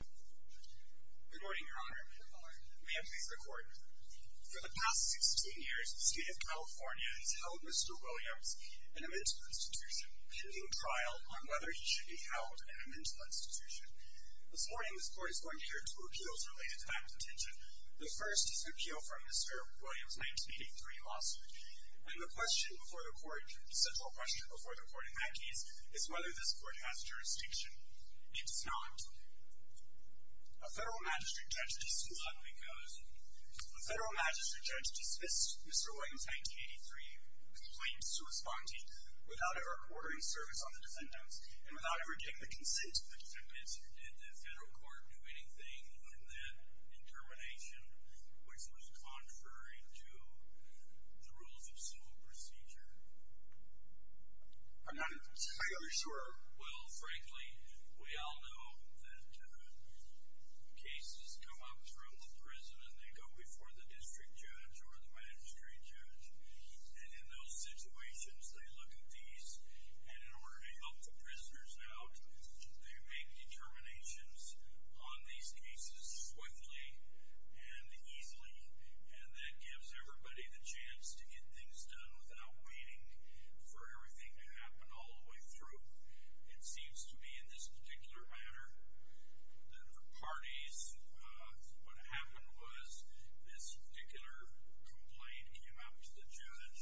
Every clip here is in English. Good morning, Your Honor. Good morning. May I please record? For the past 16 years, the State of California has held Mr. Williams in a mental institution, pending trial on whether he should be held in a mental institution. This morning, this Court is going to hear two appeals related to that contention. The first is an appeal from Mr. Williams' 1983 lawsuit. And the question before the Court, the central question before the Court in that case, is whether this Court has jurisdiction. It does not. A federal magistrate judge disputes that because a federal magistrate judge disputes Mr. Williams' 1983 complaints to a spontee without ever ordering service on the defendants and without ever getting the consent of the defendants. Did the federal court do anything in that intermination which was contrary to the rules of civil procedure? I'm not entirely sure. Well, frankly, we all know that cases come up throughout the prison and they go before the district judge or the magistrate judge. And in those situations, they look at these and in order to help the prisoners out, they make determinations on these cases swiftly and easily. And that gives everybody the chance to get things done without waiting for everything to happen all the way through. It seems to me in this particular matter that for parties, what happened was this particular complaint came out to the judge.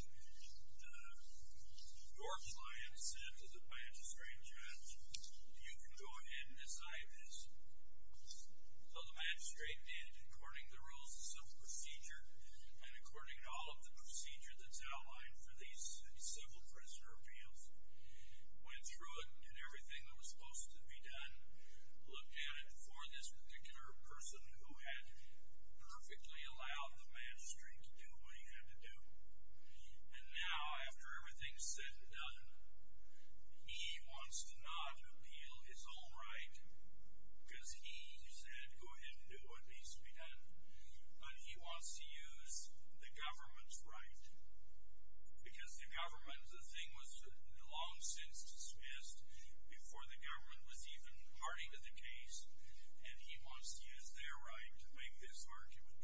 Your client said to the magistrate judge, you can go ahead and decide this. So the magistrate did, according to the rules of civil procedure and according to all of the procedure that's outlined for these civil prisoner appeals, went through it, did everything that was supposed to be done, looked at it for this particular person who had perfectly allowed the magistrate to do what he had to do. And now, after everything's said and done, he wants to not appeal his own right because he said go ahead and do what needs to be done. But he wants to use the government's right. Because the government, the thing was long since dismissed before the government was even party to the case. And he wants to use their right to make this argument.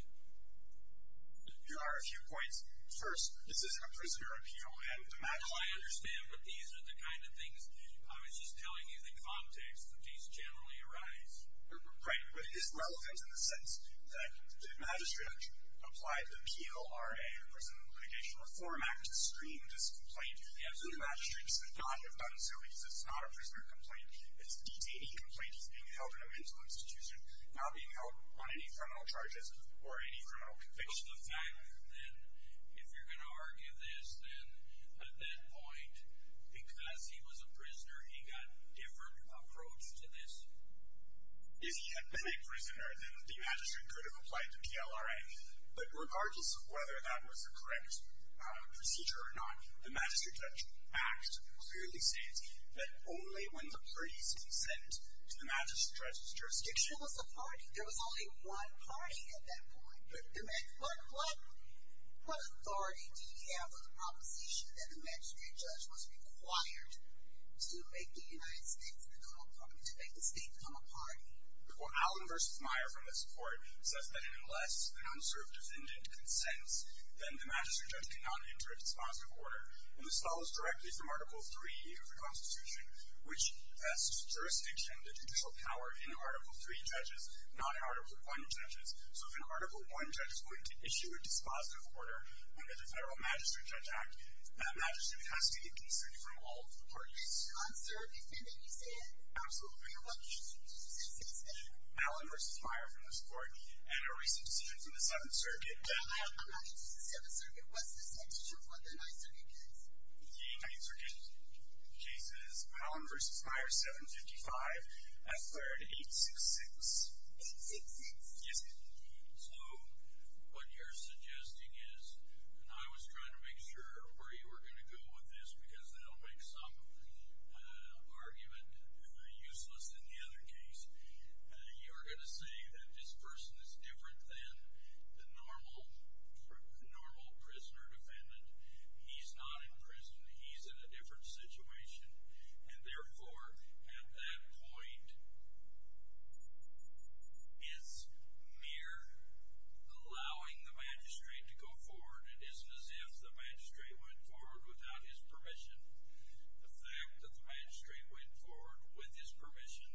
There are a few points. First, this isn't a prisoner appeal. No, I understand, but these are the kind of things, I was just telling you the context that these generally arise. Right, but it is relevant in the sense that the magistrate applied the PLRA, the Prison Litigation Reform Act, to screen this complaint. The magistrate should not have done so because it's not a prisoner complaint. It's a detainee complaint. He's being held in a mental institution, not being held on any criminal charges or any criminal conviction. Well, the fact then, if you're going to argue this, then at that point, because he was a If he had been a prisoner, then the magistrate could have applied to PLRA. But regardless of whether that was the correct procedure or not, the Magistrate Judge Act clearly states that only when the parties consent to the magistrate judge's jurisdiction. There was only one party at that point. What authority did he have with the proposition that the magistrate judge was required to make the United States and the federal government to make the state become a party? Well, Allen v. Meyer from this court says that unless an unserved defendant consents, then the magistrate judge cannot enter a dispositive order. And this follows directly from Article III of the Constitution, which tests jurisdiction, the judicial power, in Article III judges, not in Article I judges. So if an Article I judge is going to issue a dispositive order under the Federal Magistrate Judge Act, that magistrate has to be a decent from all parties. An unserved defendant, you say? Absolutely. And what case did you use in this case? Allen v. Meyer from this court. And a recent decision from the 7th Circuit. I'm not interested in the 7th Circuit. What's the statute of what the 9th Circuit case? The 9th Circuit case is Allen v. Meyer, 755. At 3rd, 866. 866? Yes, ma'am. So what you're suggesting is, and I was trying to make sure where you were going to go with this, because that will make some argument useless in the other case, you're going to say that this person is different than the normal prisoner defendant. He's not in prison. He's in a different situation. And, therefore, at that point, it's mere allowing the magistrate to go forward. It isn't as if the magistrate went forward without his permission. The fact that the magistrate went forward with his permission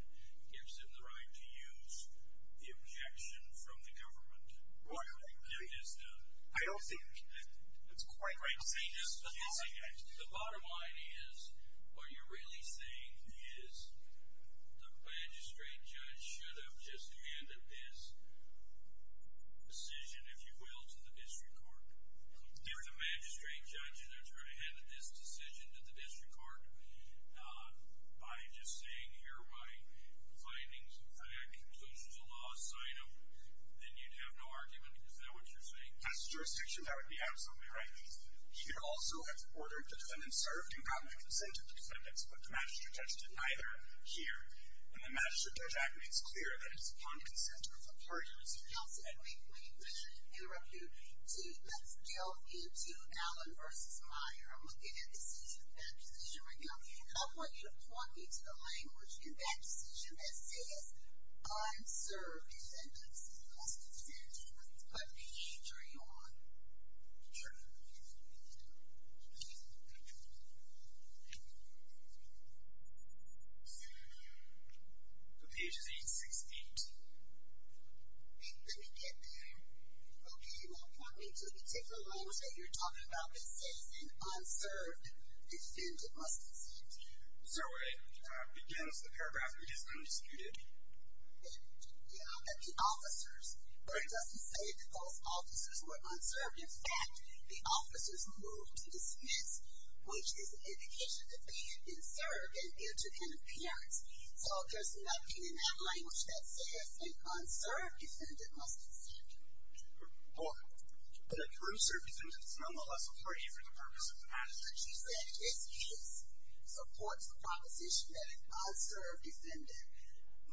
gives him the right to use the objection from the government. I don't think it's quite right to say that. The bottom line is, what you're really saying is the magistrate judge should have just handed this decision, if you will, to the district court. If the magistrate judge ended up trying to hand this decision to the district court by just saying, here are my findings, I have conclusions of law, sign them, then you'd have no argument. Is that what you're saying? As a jurisdiction, that would be absolutely right. He could also have ordered the defendant served and gotten a consent of the defendant, but the magistrate judge did neither here. And the Magistrate Judge Act makes clear that it's upon consent of the parties. Counsel, I'd like to interrupt you to delve into Allen v. Meyer. I'm looking at this decision, that decision right now. I want you to point me to the language in that decision that says, unserved, defendant must consent to. Let me turn you on. Sure. The page is 868. Let me get there. Okay, well, point me to the particular language that you're talking about that says, unserved, defendant must consent to. So it begins, the paragraph is undisputed. Yeah, the officers. But it doesn't say that those officers were unserved. In fact, the officers moved to dismiss, which is an indication that they had been served and due to an appearance. So there's nothing in that language that says, unserved, defendant must consent to. Well, the cruiser, defendant is nonetheless afraid for the purpose of the matter. She said, this case supports the proposition that an unserved defendant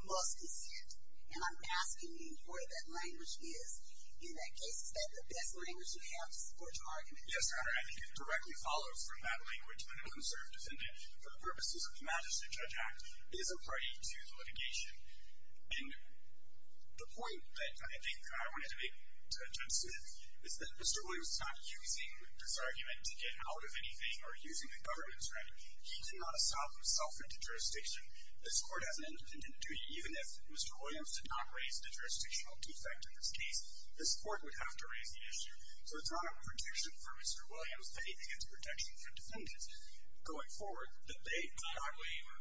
must consent. And I'm asking you where that language is. In that case, is that the best language you have to support your argument? Yes, Your Honor. I think it directly follows from that language when an unserved defendant, for the purposes of the Magistrate Judge Act, is a party to litigation. And the point that I think I wanted to make to Judge Smith is that Mr. Williams did not raise the jurisdictional defect in this case. This Court has an independent duty. Even if Mr. Williams did not raise the jurisdictional defect in this case, this Court would have to raise the issue. So it's not a protection for Mr. Williams, but it is a protection for defendants. Going forward, the debate on our waiver.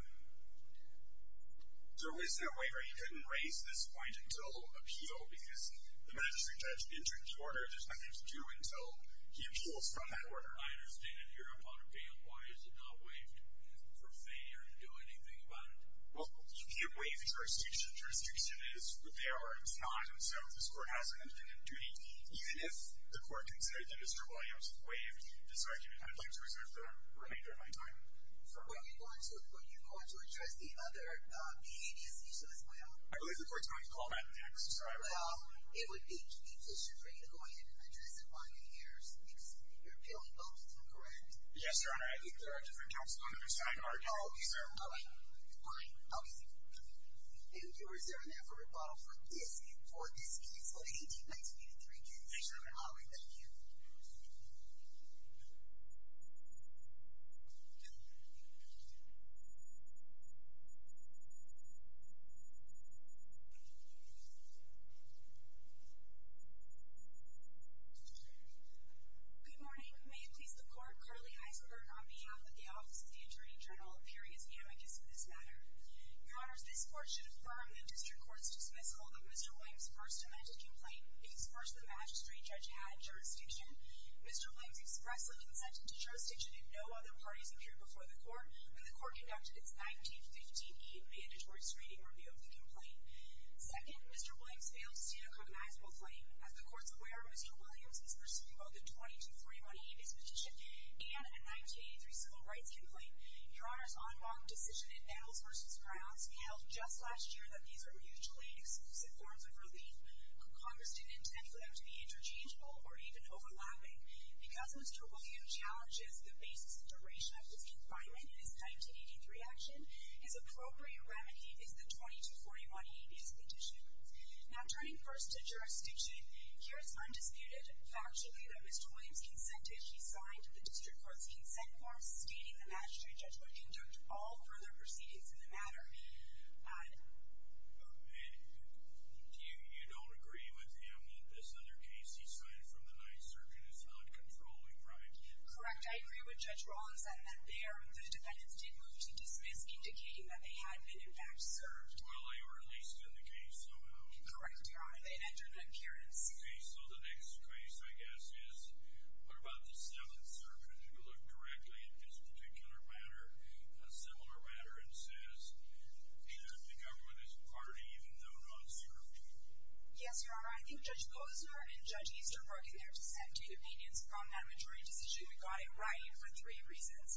There was no waiver. He couldn't raise this point until appeal because the Magistrate Judge entered the order. There's nothing to do until he appeals from that order. I understand that you're a part of the appeal. Why is it not waived for failure to do anything about it? Well, you can't waive jurisdiction. Jurisdiction is what they are. It's not. And so this Court has an independent duty. Even if the Court considered that Mr. Williams waived this argument, I'd like to reserve the remainder of my time. Were you going to address the other behavior issues as well? I believe the Court's going to call that next. Well, it would be inefficient for you to go ahead and address it while you're here because you're appealing both, is that correct? Yes, Your Honor. I think there are different counsels on the other side of the argument. Okay, sir. All right. All right. Okay, thank you. And you're reserving that for rebuttal for this case? For this case? For the 1893 case? Yes, Your Honor. All right. Thank you. Good morning. May it please the Court, Carly Heisberg on behalf of the Office of the Attorney General appearing as the amicus of this matter. Your Honors, this Court should affirm the District Court's dismissal of Mr. Williams' first amended complaint that expressed the magistrate judge had jurisdiction. Mr. Williams expressly consented to jurisdiction if no other parties appeared before the Court when the Court conducted its 1915 E mandatory screening review of the complaint. Second, Mr. Williams failed to stand a compromisable claim. As the Court's aware, Mr. Williams is pursuing both a 20-41 habeas petition and a 1983 civil rights complaint. Your Honors, on wrong decision in battles versus grounds, we held just last year that these are mutually exclusive forms of relief. Congress didn't intend for them to be interchangeable or even overlapping. Because Mr. Williams challenges the basis and duration of his confinement in his 1983 action, his appropriate remedy is the 20-41 habeas petition. Now, turning first to jurisdiction, here is undisputed, factually, that Mr. Williams consented. He signed the District Court's consent form stating the magistrate judge would conduct all further proceedings in the matter. And you don't agree with him that this other case he signed from the 9th Circuit is not controlling, right? Correct. I agree with Judge Rollins that the defendants did move to dismiss, indicating that they had been, in fact, served. Well, they were at least in the case somehow. Correct, Your Honor. They entered the currency. Okay, so the next case, I guess, is, what about the 7th Circuit? If you look correctly, in this particular matter, a similar matter, it says that the government is party, even though not served. Yes, Your Honor. I think Judge Bozeman and Judge Easterbrook in their dissenting opinions from that majority decision, we got it right for three reasons.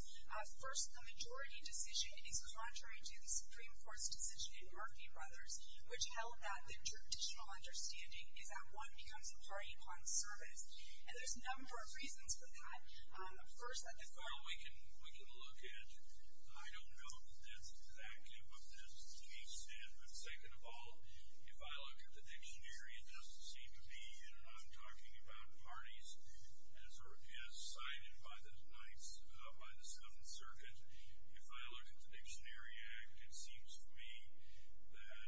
First, the majority decision is contrary to the Supreme Court's decision in Murphy Brothers, which held that the traditional understanding is that one becomes a party upon service. And there's a number of reasons for that. First, that the government... Well, we can look at... I don't know the depth and active of this case, and, second of all, if I look at the dictionary, it doesn't seem to be, and I'm talking about parties as cited by the Knights, by the 7th Circuit. If I look at the Dictionary Act, it seems to me that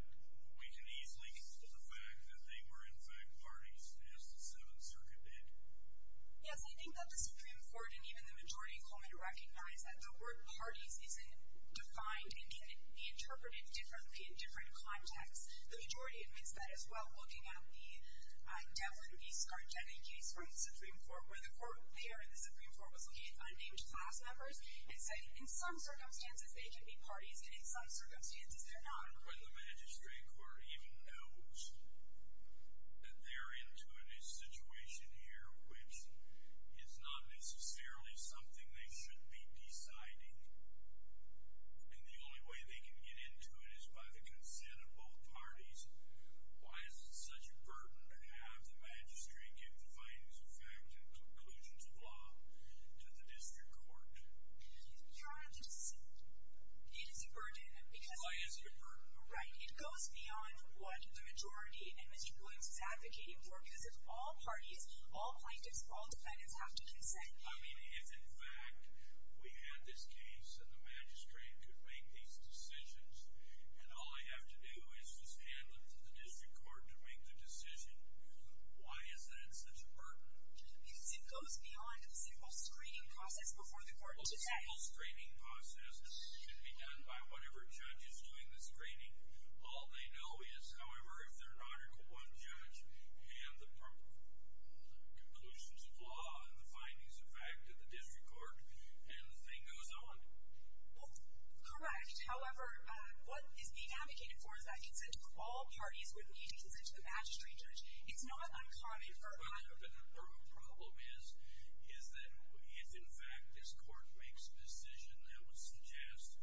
we can easily get to the fact that they were, in fact, parties, as the 7th Circuit did. Yes, I think that the Supreme Court and even the majority call me to recognize that the word parties isn't defined, and can be interpreted differently in different contexts. The majority admits that as well, looking at the Devlin v. Skargeni case from the Supreme Court, where the court there in the Supreme Court was looking at unnamed class members and said, in some circumstances, they can be parties, and in some circumstances, they're not. But the magistrate court even knows that they're into a situation here which is not necessarily something they should be deciding. And the only way they can get into it is by the consent of both parties. Why is it such a burden to have the magistrate give the findings of fact and conclusions of law to the district court? You don't have to say that. It is a burden, because... Why is it a burden? Right, it goes beyond what the majority and Mr. Woods is advocating for, because if all parties, all plaintiffs, all defendants have to consent... I mean, if, in fact, we had this case and the magistrate could make these decisions and all I have to do is just hand them to the district court to make the decision, why is that such a burden? Because it goes beyond a simple screening process before the court today. A simple screening process should be done by whatever judge is doing the screening. All they know is, however, if they're an Article I judge, hand the conclusions of law and the findings of fact to the district court, and the thing goes on. Well, correct. However, what is being advocated for is that consent of all parties with need to consent to the magistrate judge. It's not uncommon. The problem is that if, in fact, this court makes a decision that would suggest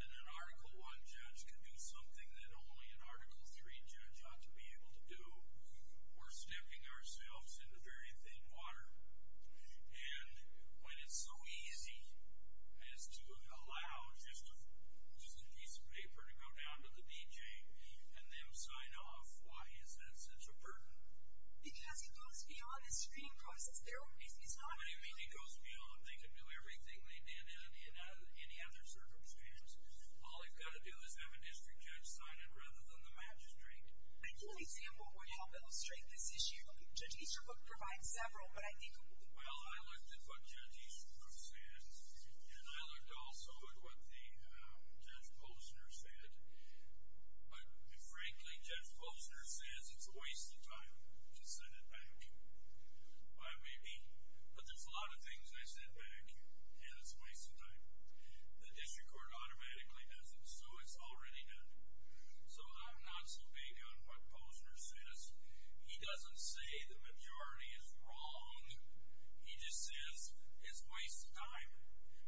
that an Article I judge can do something that only an Article III judge ought to be able to do, we're stepping ourselves into very thin water. And when it's so easy as to allow just a piece of paper to go down to the DJ and them sign off, why is that such a burden? Because it goes beyond the screening process. It's not uncommon. What do you mean it goes beyond? They can do everything they did in any other circumstance. All they've got to do is have a district judge sign it rather than the magistrate. I can't think of an example that would help illustrate this issue. Judge Easterbrook provides several, but I think... Well, I looked at what Judge Easterbrook said, and I looked also at what Judge Posner said, but, frankly, Judge Posner says it's a waste of time to send it back. Well, it may be, but there's a lot of things they send back, and it's a waste of time. The district court automatically does it, so it's already done. So I'm not so big on what Posner says. He doesn't say the majority is wrong. He just says it's a waste of time,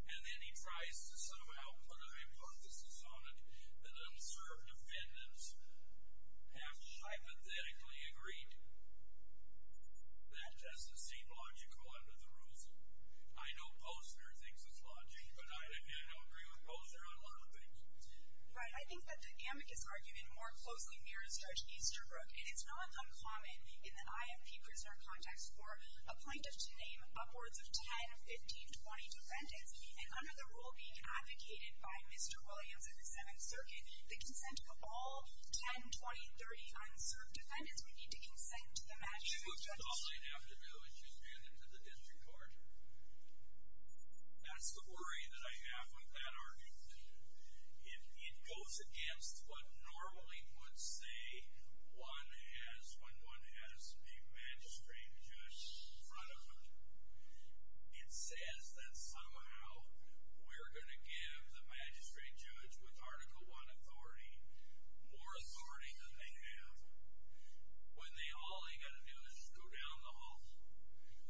and then he tries to somehow put a hypothesis on it that unserved defendants have hypothetically agreed. That doesn't seem logical under the rules. I know Posner thinks it's logical, but I don't agree with Posner on a lot of things. Right, I think that the amicus argument more closely mirrors Judge Easterbrook, and it's not uncommon in the IFP prisoner context for a plaintiff to name upwards of 10, 15, 20 defendants, and under the rule being advocated by Mr. Williams in the Seventh Circuit, the consent of all 10, 20, 30 unserved defendants would be to consent to the magistrate judge. All they'd have to do is just hand it to the district court. That's the worry that I have with that argument. It goes against what normally would say when one has the magistrate judge in front of them. It says that somehow we're going to give the magistrate judge with Article I authority more authority than they have when all they've got to do is just go down the hall.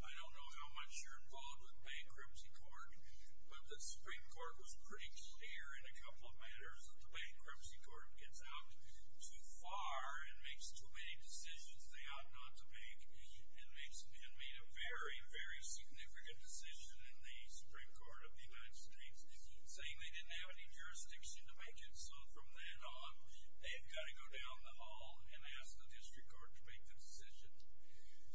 I don't know how much you're involved with bankruptcy court, but the Supreme Court was pretty clear in a couple of matters that the bankruptcy court gets out too far and makes too many decisions they ought not to make and made a very, very significant decision in the Supreme Court of the United States saying they didn't have any jurisdiction to make it. So from then on, they've got to go down the hall and ask the district court to make the decision.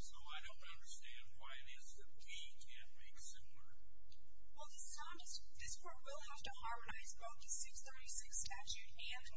So I don't understand why it is that he can't make sooner. Well, this court will have to harmonize both the 636 statute and the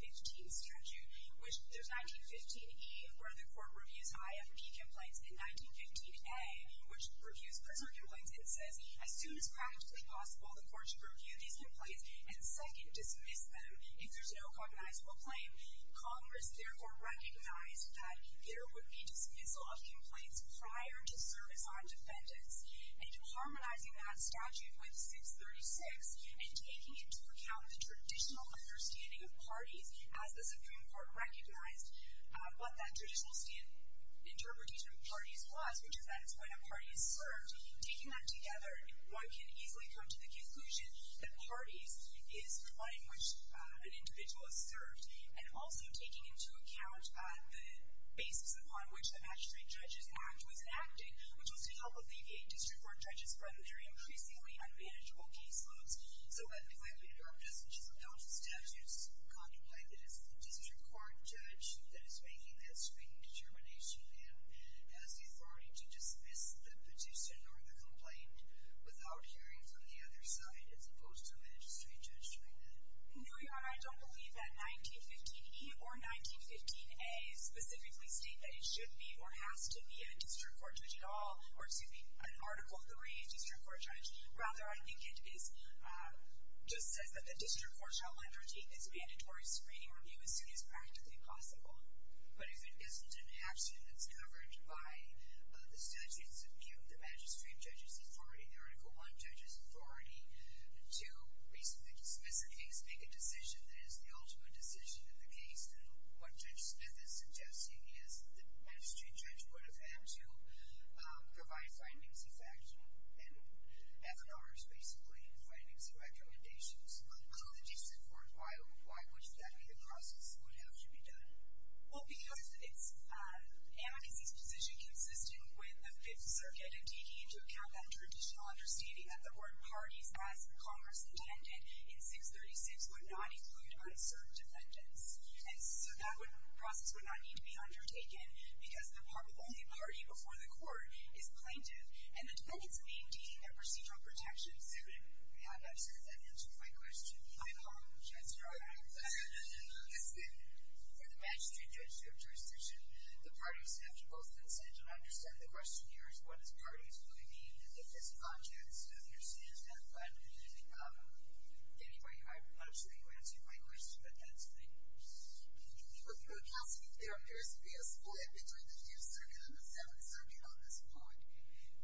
1915 statute. There's 1915E, where the court reviews high F&P complaints, and 1915A, which reviews prison complaints. It says as soon as practically possible, the court should review these complaints and second, dismiss them. If there's no cognizable claim, Congress therefore recognized that there would be dismissal of complaints prior to service on defendants. And harmonizing that statute with 636 and taking into account the traditional understanding of parties, as the Supreme Court recognized what that traditional interpretation of parties was, which is that it's when a party is served, taking that together, one can easily come to the conclusion that parties is the line in which an individual is served. And also taking into account the basis upon which the Magistrate Judges Act was enacted, which was to help alleviate district court judges from their increasingly unmanageable caseloads. So if I may interrupt, just in terms of those statutes, contemplate that it's the district court judge that is making this, making the determination to him as the authority to dismiss the petition or the complaint without hearing from the other side, as opposed to a magistrate judge doing that? No, Your Honor, I don't believe that 1915E or 1915A specifically state that it should be or has to be a district court judge at all, or excuse me, an article 3 district court judge. Rather, I think it just says that the district court shall undertake its mandatory screening review as soon as practically possible. But if it isn't an action that's covered by the statutes of view of the Magistrate Judges Authority, the Article 1 Judges Authority, to basically dismiss a case, make a decision that is the ultimate decision in the case, then what Judge Smith is suggesting is that the magistrate judge would have had to provide findings, in fact, and FNRs, basically, findings and recommendations. So the district court, why would that be the process would have to be done? Well, because it's an amicacy's position consisting with the Fifth Circuit and taking into account that traditional understanding that the board parties, as Congress intended in 636, would not include unserved defendants. And so that process would not need to be undertaken because the only party before the court is plaintiff, and the defendants need to be in their procedural protections. I'm sure that answers my question. I apologize. I'm sorry. That's good. For the Magistrate Judges to have jurisdiction, the parties have to both consent and understand the question here is, what does parties really mean? And if there's a context to understand that, but anyway, I'm not sure you answered my question, but that's fine. You were asking if there appears to be a split between the Fifth Circuit and the Seventh Circuit on this point.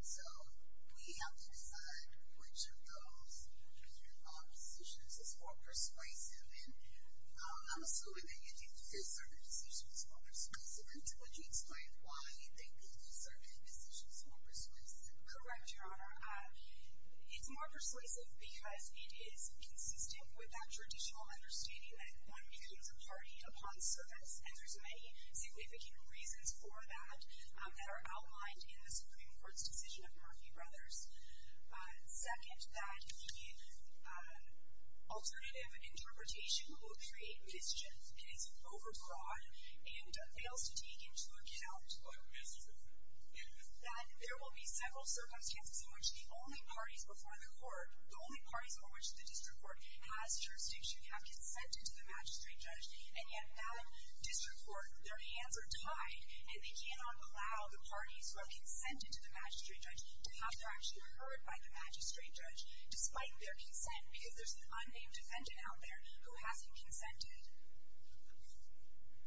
So we have to decide which of those positions is more persuasive. And I'm assuming that your Fifth Circuit decision is more persuasive. And could you explain why you think the Fifth Circuit decision is more persuasive? Correct, Your Honor. It's more persuasive because it is consistent with that traditional understanding that one becomes a party upon service. And there's many significant reasons for that that are outlined in the Supreme Court's decision of Murphy Brothers. Second, that the alternative interpretation will create mischief. It is overbroad and fails to take into account that there will be several circumstances in which the only parties before the court, the only parties on which the district court has jurisdiction have consented to the Magistrate Judge. And yet that district court, their hands are tied. And they cannot allow the parties who have consented to the Magistrate Judge to have their action heard by the Magistrate Judge despite their consent. Because there's an unnamed defendant out there who hasn't consented.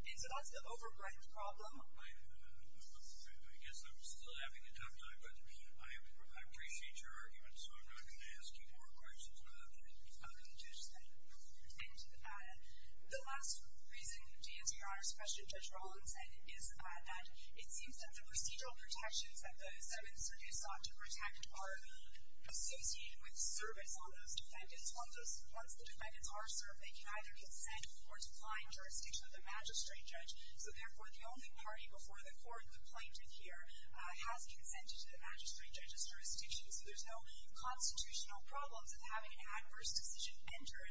And so that's the overbroad problem. I guess I'm still having a tough time with it. I appreciate your argument, so I'm not going to ask you more questions about it. OK, Judge, thank you. And the last reason to answer Your Honor's question, Judge Rollins said, is that it seems that the procedural protections that those defendants are sought to protect are associated with service on those defendants. Once the defendants are served, they can either consent or decline jurisdiction of the Magistrate Judge. So therefore, the only party before the court, the plaintiff here, has consented to the Magistrate Judge's jurisdiction. So there's no constitutional problems of having an adverse decision entered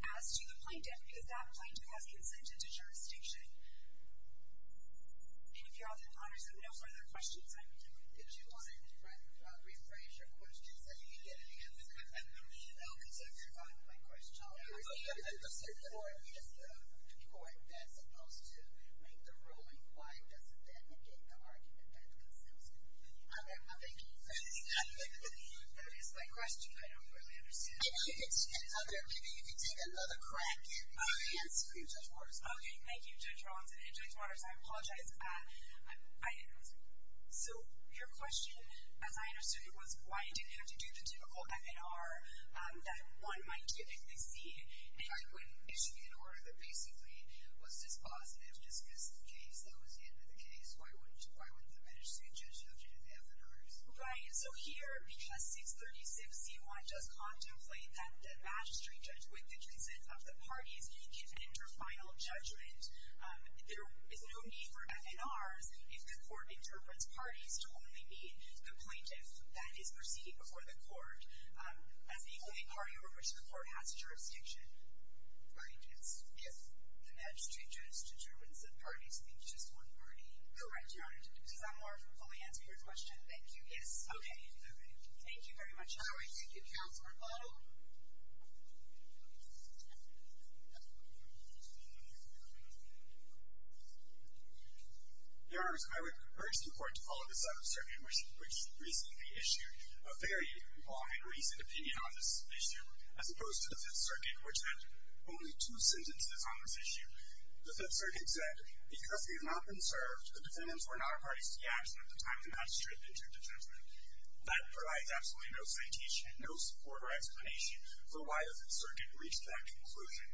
as to the plaintiff, because that plaintiff has consented to jurisdiction. And if Your Honor has no further questions, I would do it. Did you want to rephrase your question, so that you could get an answer? No, because I forgot my question. I was going to say, if the court is the court that's supposed to make the ruling, why doesn't the defendant get the argument that consents? I'm at my thinking phase. That is my question. I don't really understand it. Maybe you can take another crack at it and answer it, Judge Waters. OK, thank you, Judge Rollins. And Judge Waters, I apologize. So your question, as I understood it, was why didn't you have to do the typical FNR that one might typically see? If I couldn't issue you an order that basically was dispositive just because the case, that was the end of the case, why wouldn't the Magistrate Judge judge it in the FNRs? Right. So here, because 636c1 does contemplate that the Magistrate Judge, with the consent of the parties, may give inter-final judgment, there is no need for FNRs if the court interprets parties to only be the plaintiff that is proceeding before the court as the only party over which the court has jurisdiction. Right, yes. If the Magistrate Judge determines that parties need just one party. Correct, Your Honor. Does that more than fully answer your question? Thank you, yes. OK. Thank you very much. All right, thank you. Counselor Butler. Your Honor, I would urge the court to follow the Seventh Circuit, which recently issued a very long and recent opinion on this issue, as opposed to the Fifth Circuit, which had only two sentences on this issue. The Fifth Circuit said, because we have not been served, the defendants were not parties to the action at the time of the Magistrate Judge's judgment. That provides absolutely no citation, no support or explanation for why the Fifth Circuit reached that conclusion.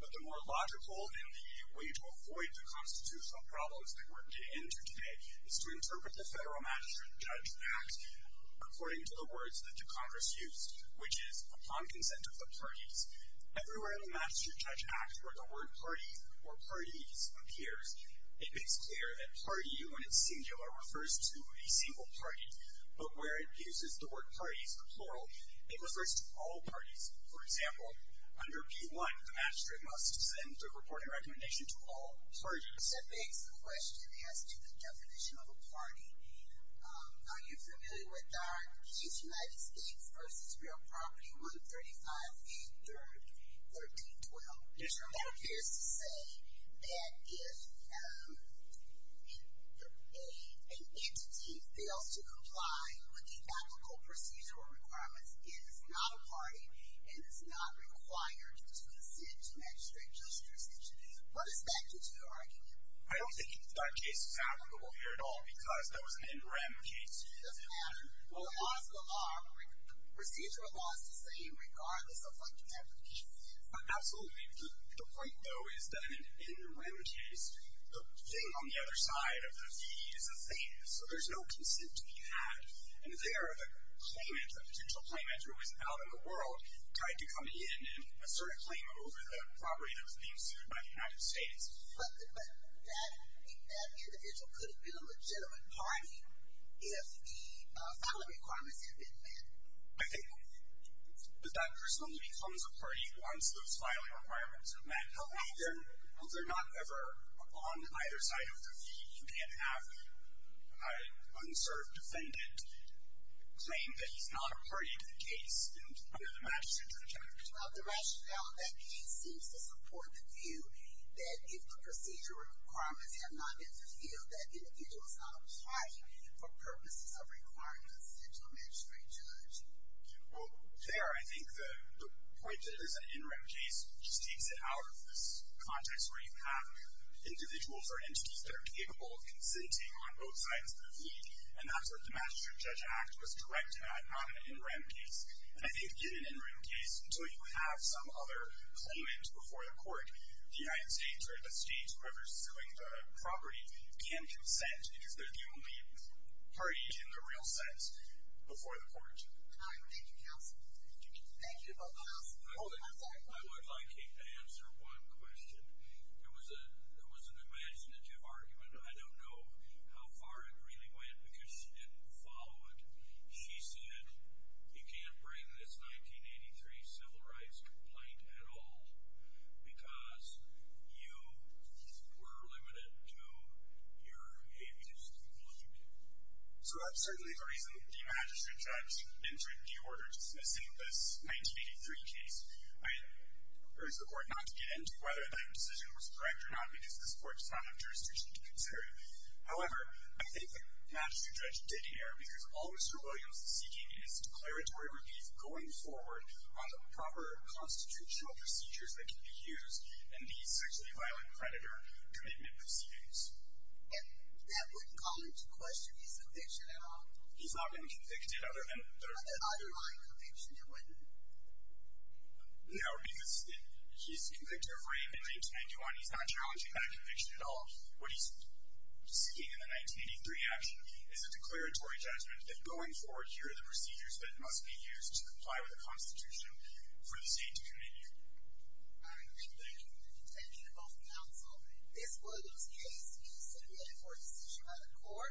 But the more logical and the way to avoid the constitutional problems that we're getting into today is to interpret the Federal Magistrate Judge Act according to the words that the Congress used, which is, upon consent of the parties. Everywhere in the Magistrate Judge Act where the word party or parties appears, it makes clear that party, when it's singular, refers to a single party. But where it uses the word parties, or plural, it refers to all parties. For example, under P.1, the Magistrate must send a reporting recommendation to all parties. That begs the question, as to the definition of a party, are you familiar with our case United States v. Real Property, 135A.3.13.12? Yes, Your Honor. That appears to say that if an entity fails to comply with the applicable procedural requirements, it is not a party and is not required to consent to magistrate justice. What is that, did you argue? I don't think that case is applicable here at all because that was an NREM case. It doesn't matter. Well, the laws of the law, procedural laws are the same regardless of what you have in the case. Absolutely. The point, though, is that in an NREM case, the thing on the other side of the fee is a thing, so there's no consent to be had. And there, the claimant, the potential claimant who is out in the world, tried to come in and assert a claim over the property that was being sued by the United States. But that individual could have been a legitimate party if the filing requirements had been met. I think that that person only becomes a party once those filing requirements are met. No, they're not ever on either side of the fee. So you can't have an unserved defendant claim that he's not a party to the case under the magistrate judge. Well, the rationale in that case seems to support the view that if the procedural requirements have not been fulfilled, that individual is not applying for purposes of requirements into a magistrate judge. Well, there, I think the point that it is an NREM case just takes it out of this context where you have individuals or entities that are capable of consenting on both sides of the fee. And that's where the Magistrate Judge Act was directed on an NREM case. And I think, given an NREM case, until you have some other claimant before the court, the United States or the state who are pursuing the property can consent because they're the only party in the real sense before the court. All right, thank you, counsel. Thank you. Thank you both. I would like to answer one question. It was an imaginative argument. I don't know how far it really went because she didn't follow it. She said, you can't bring this 1983 civil rights complaint at all because you were limited to your absence from the legislature. So certainly the reason the magistrate judge entered the order dismissing this 1983 case, I urge the court not to get into whether that decision was correct or not because this court does not have jurisdiction to consider it. However, I think the magistrate judge did hear because all Mr. Williams is seeking is declaratory relief going forward on the proper constitutional procedures that can be used in the sexually violent predator commitment proceedings. And that wouldn't call into question his conviction at all? He's not been convicted other than... Other than my conviction, it wouldn't. No, because he's convicted of rape in 1991. He's not challenging that conviction at all. What he's seeking in the 1983 action is a declaratory judgment that going forward here are the procedures that must be used to comply with the Constitution for the state to continue. Thank you. Thank you to both counsel. This Williams case is submitted for a decision by the court.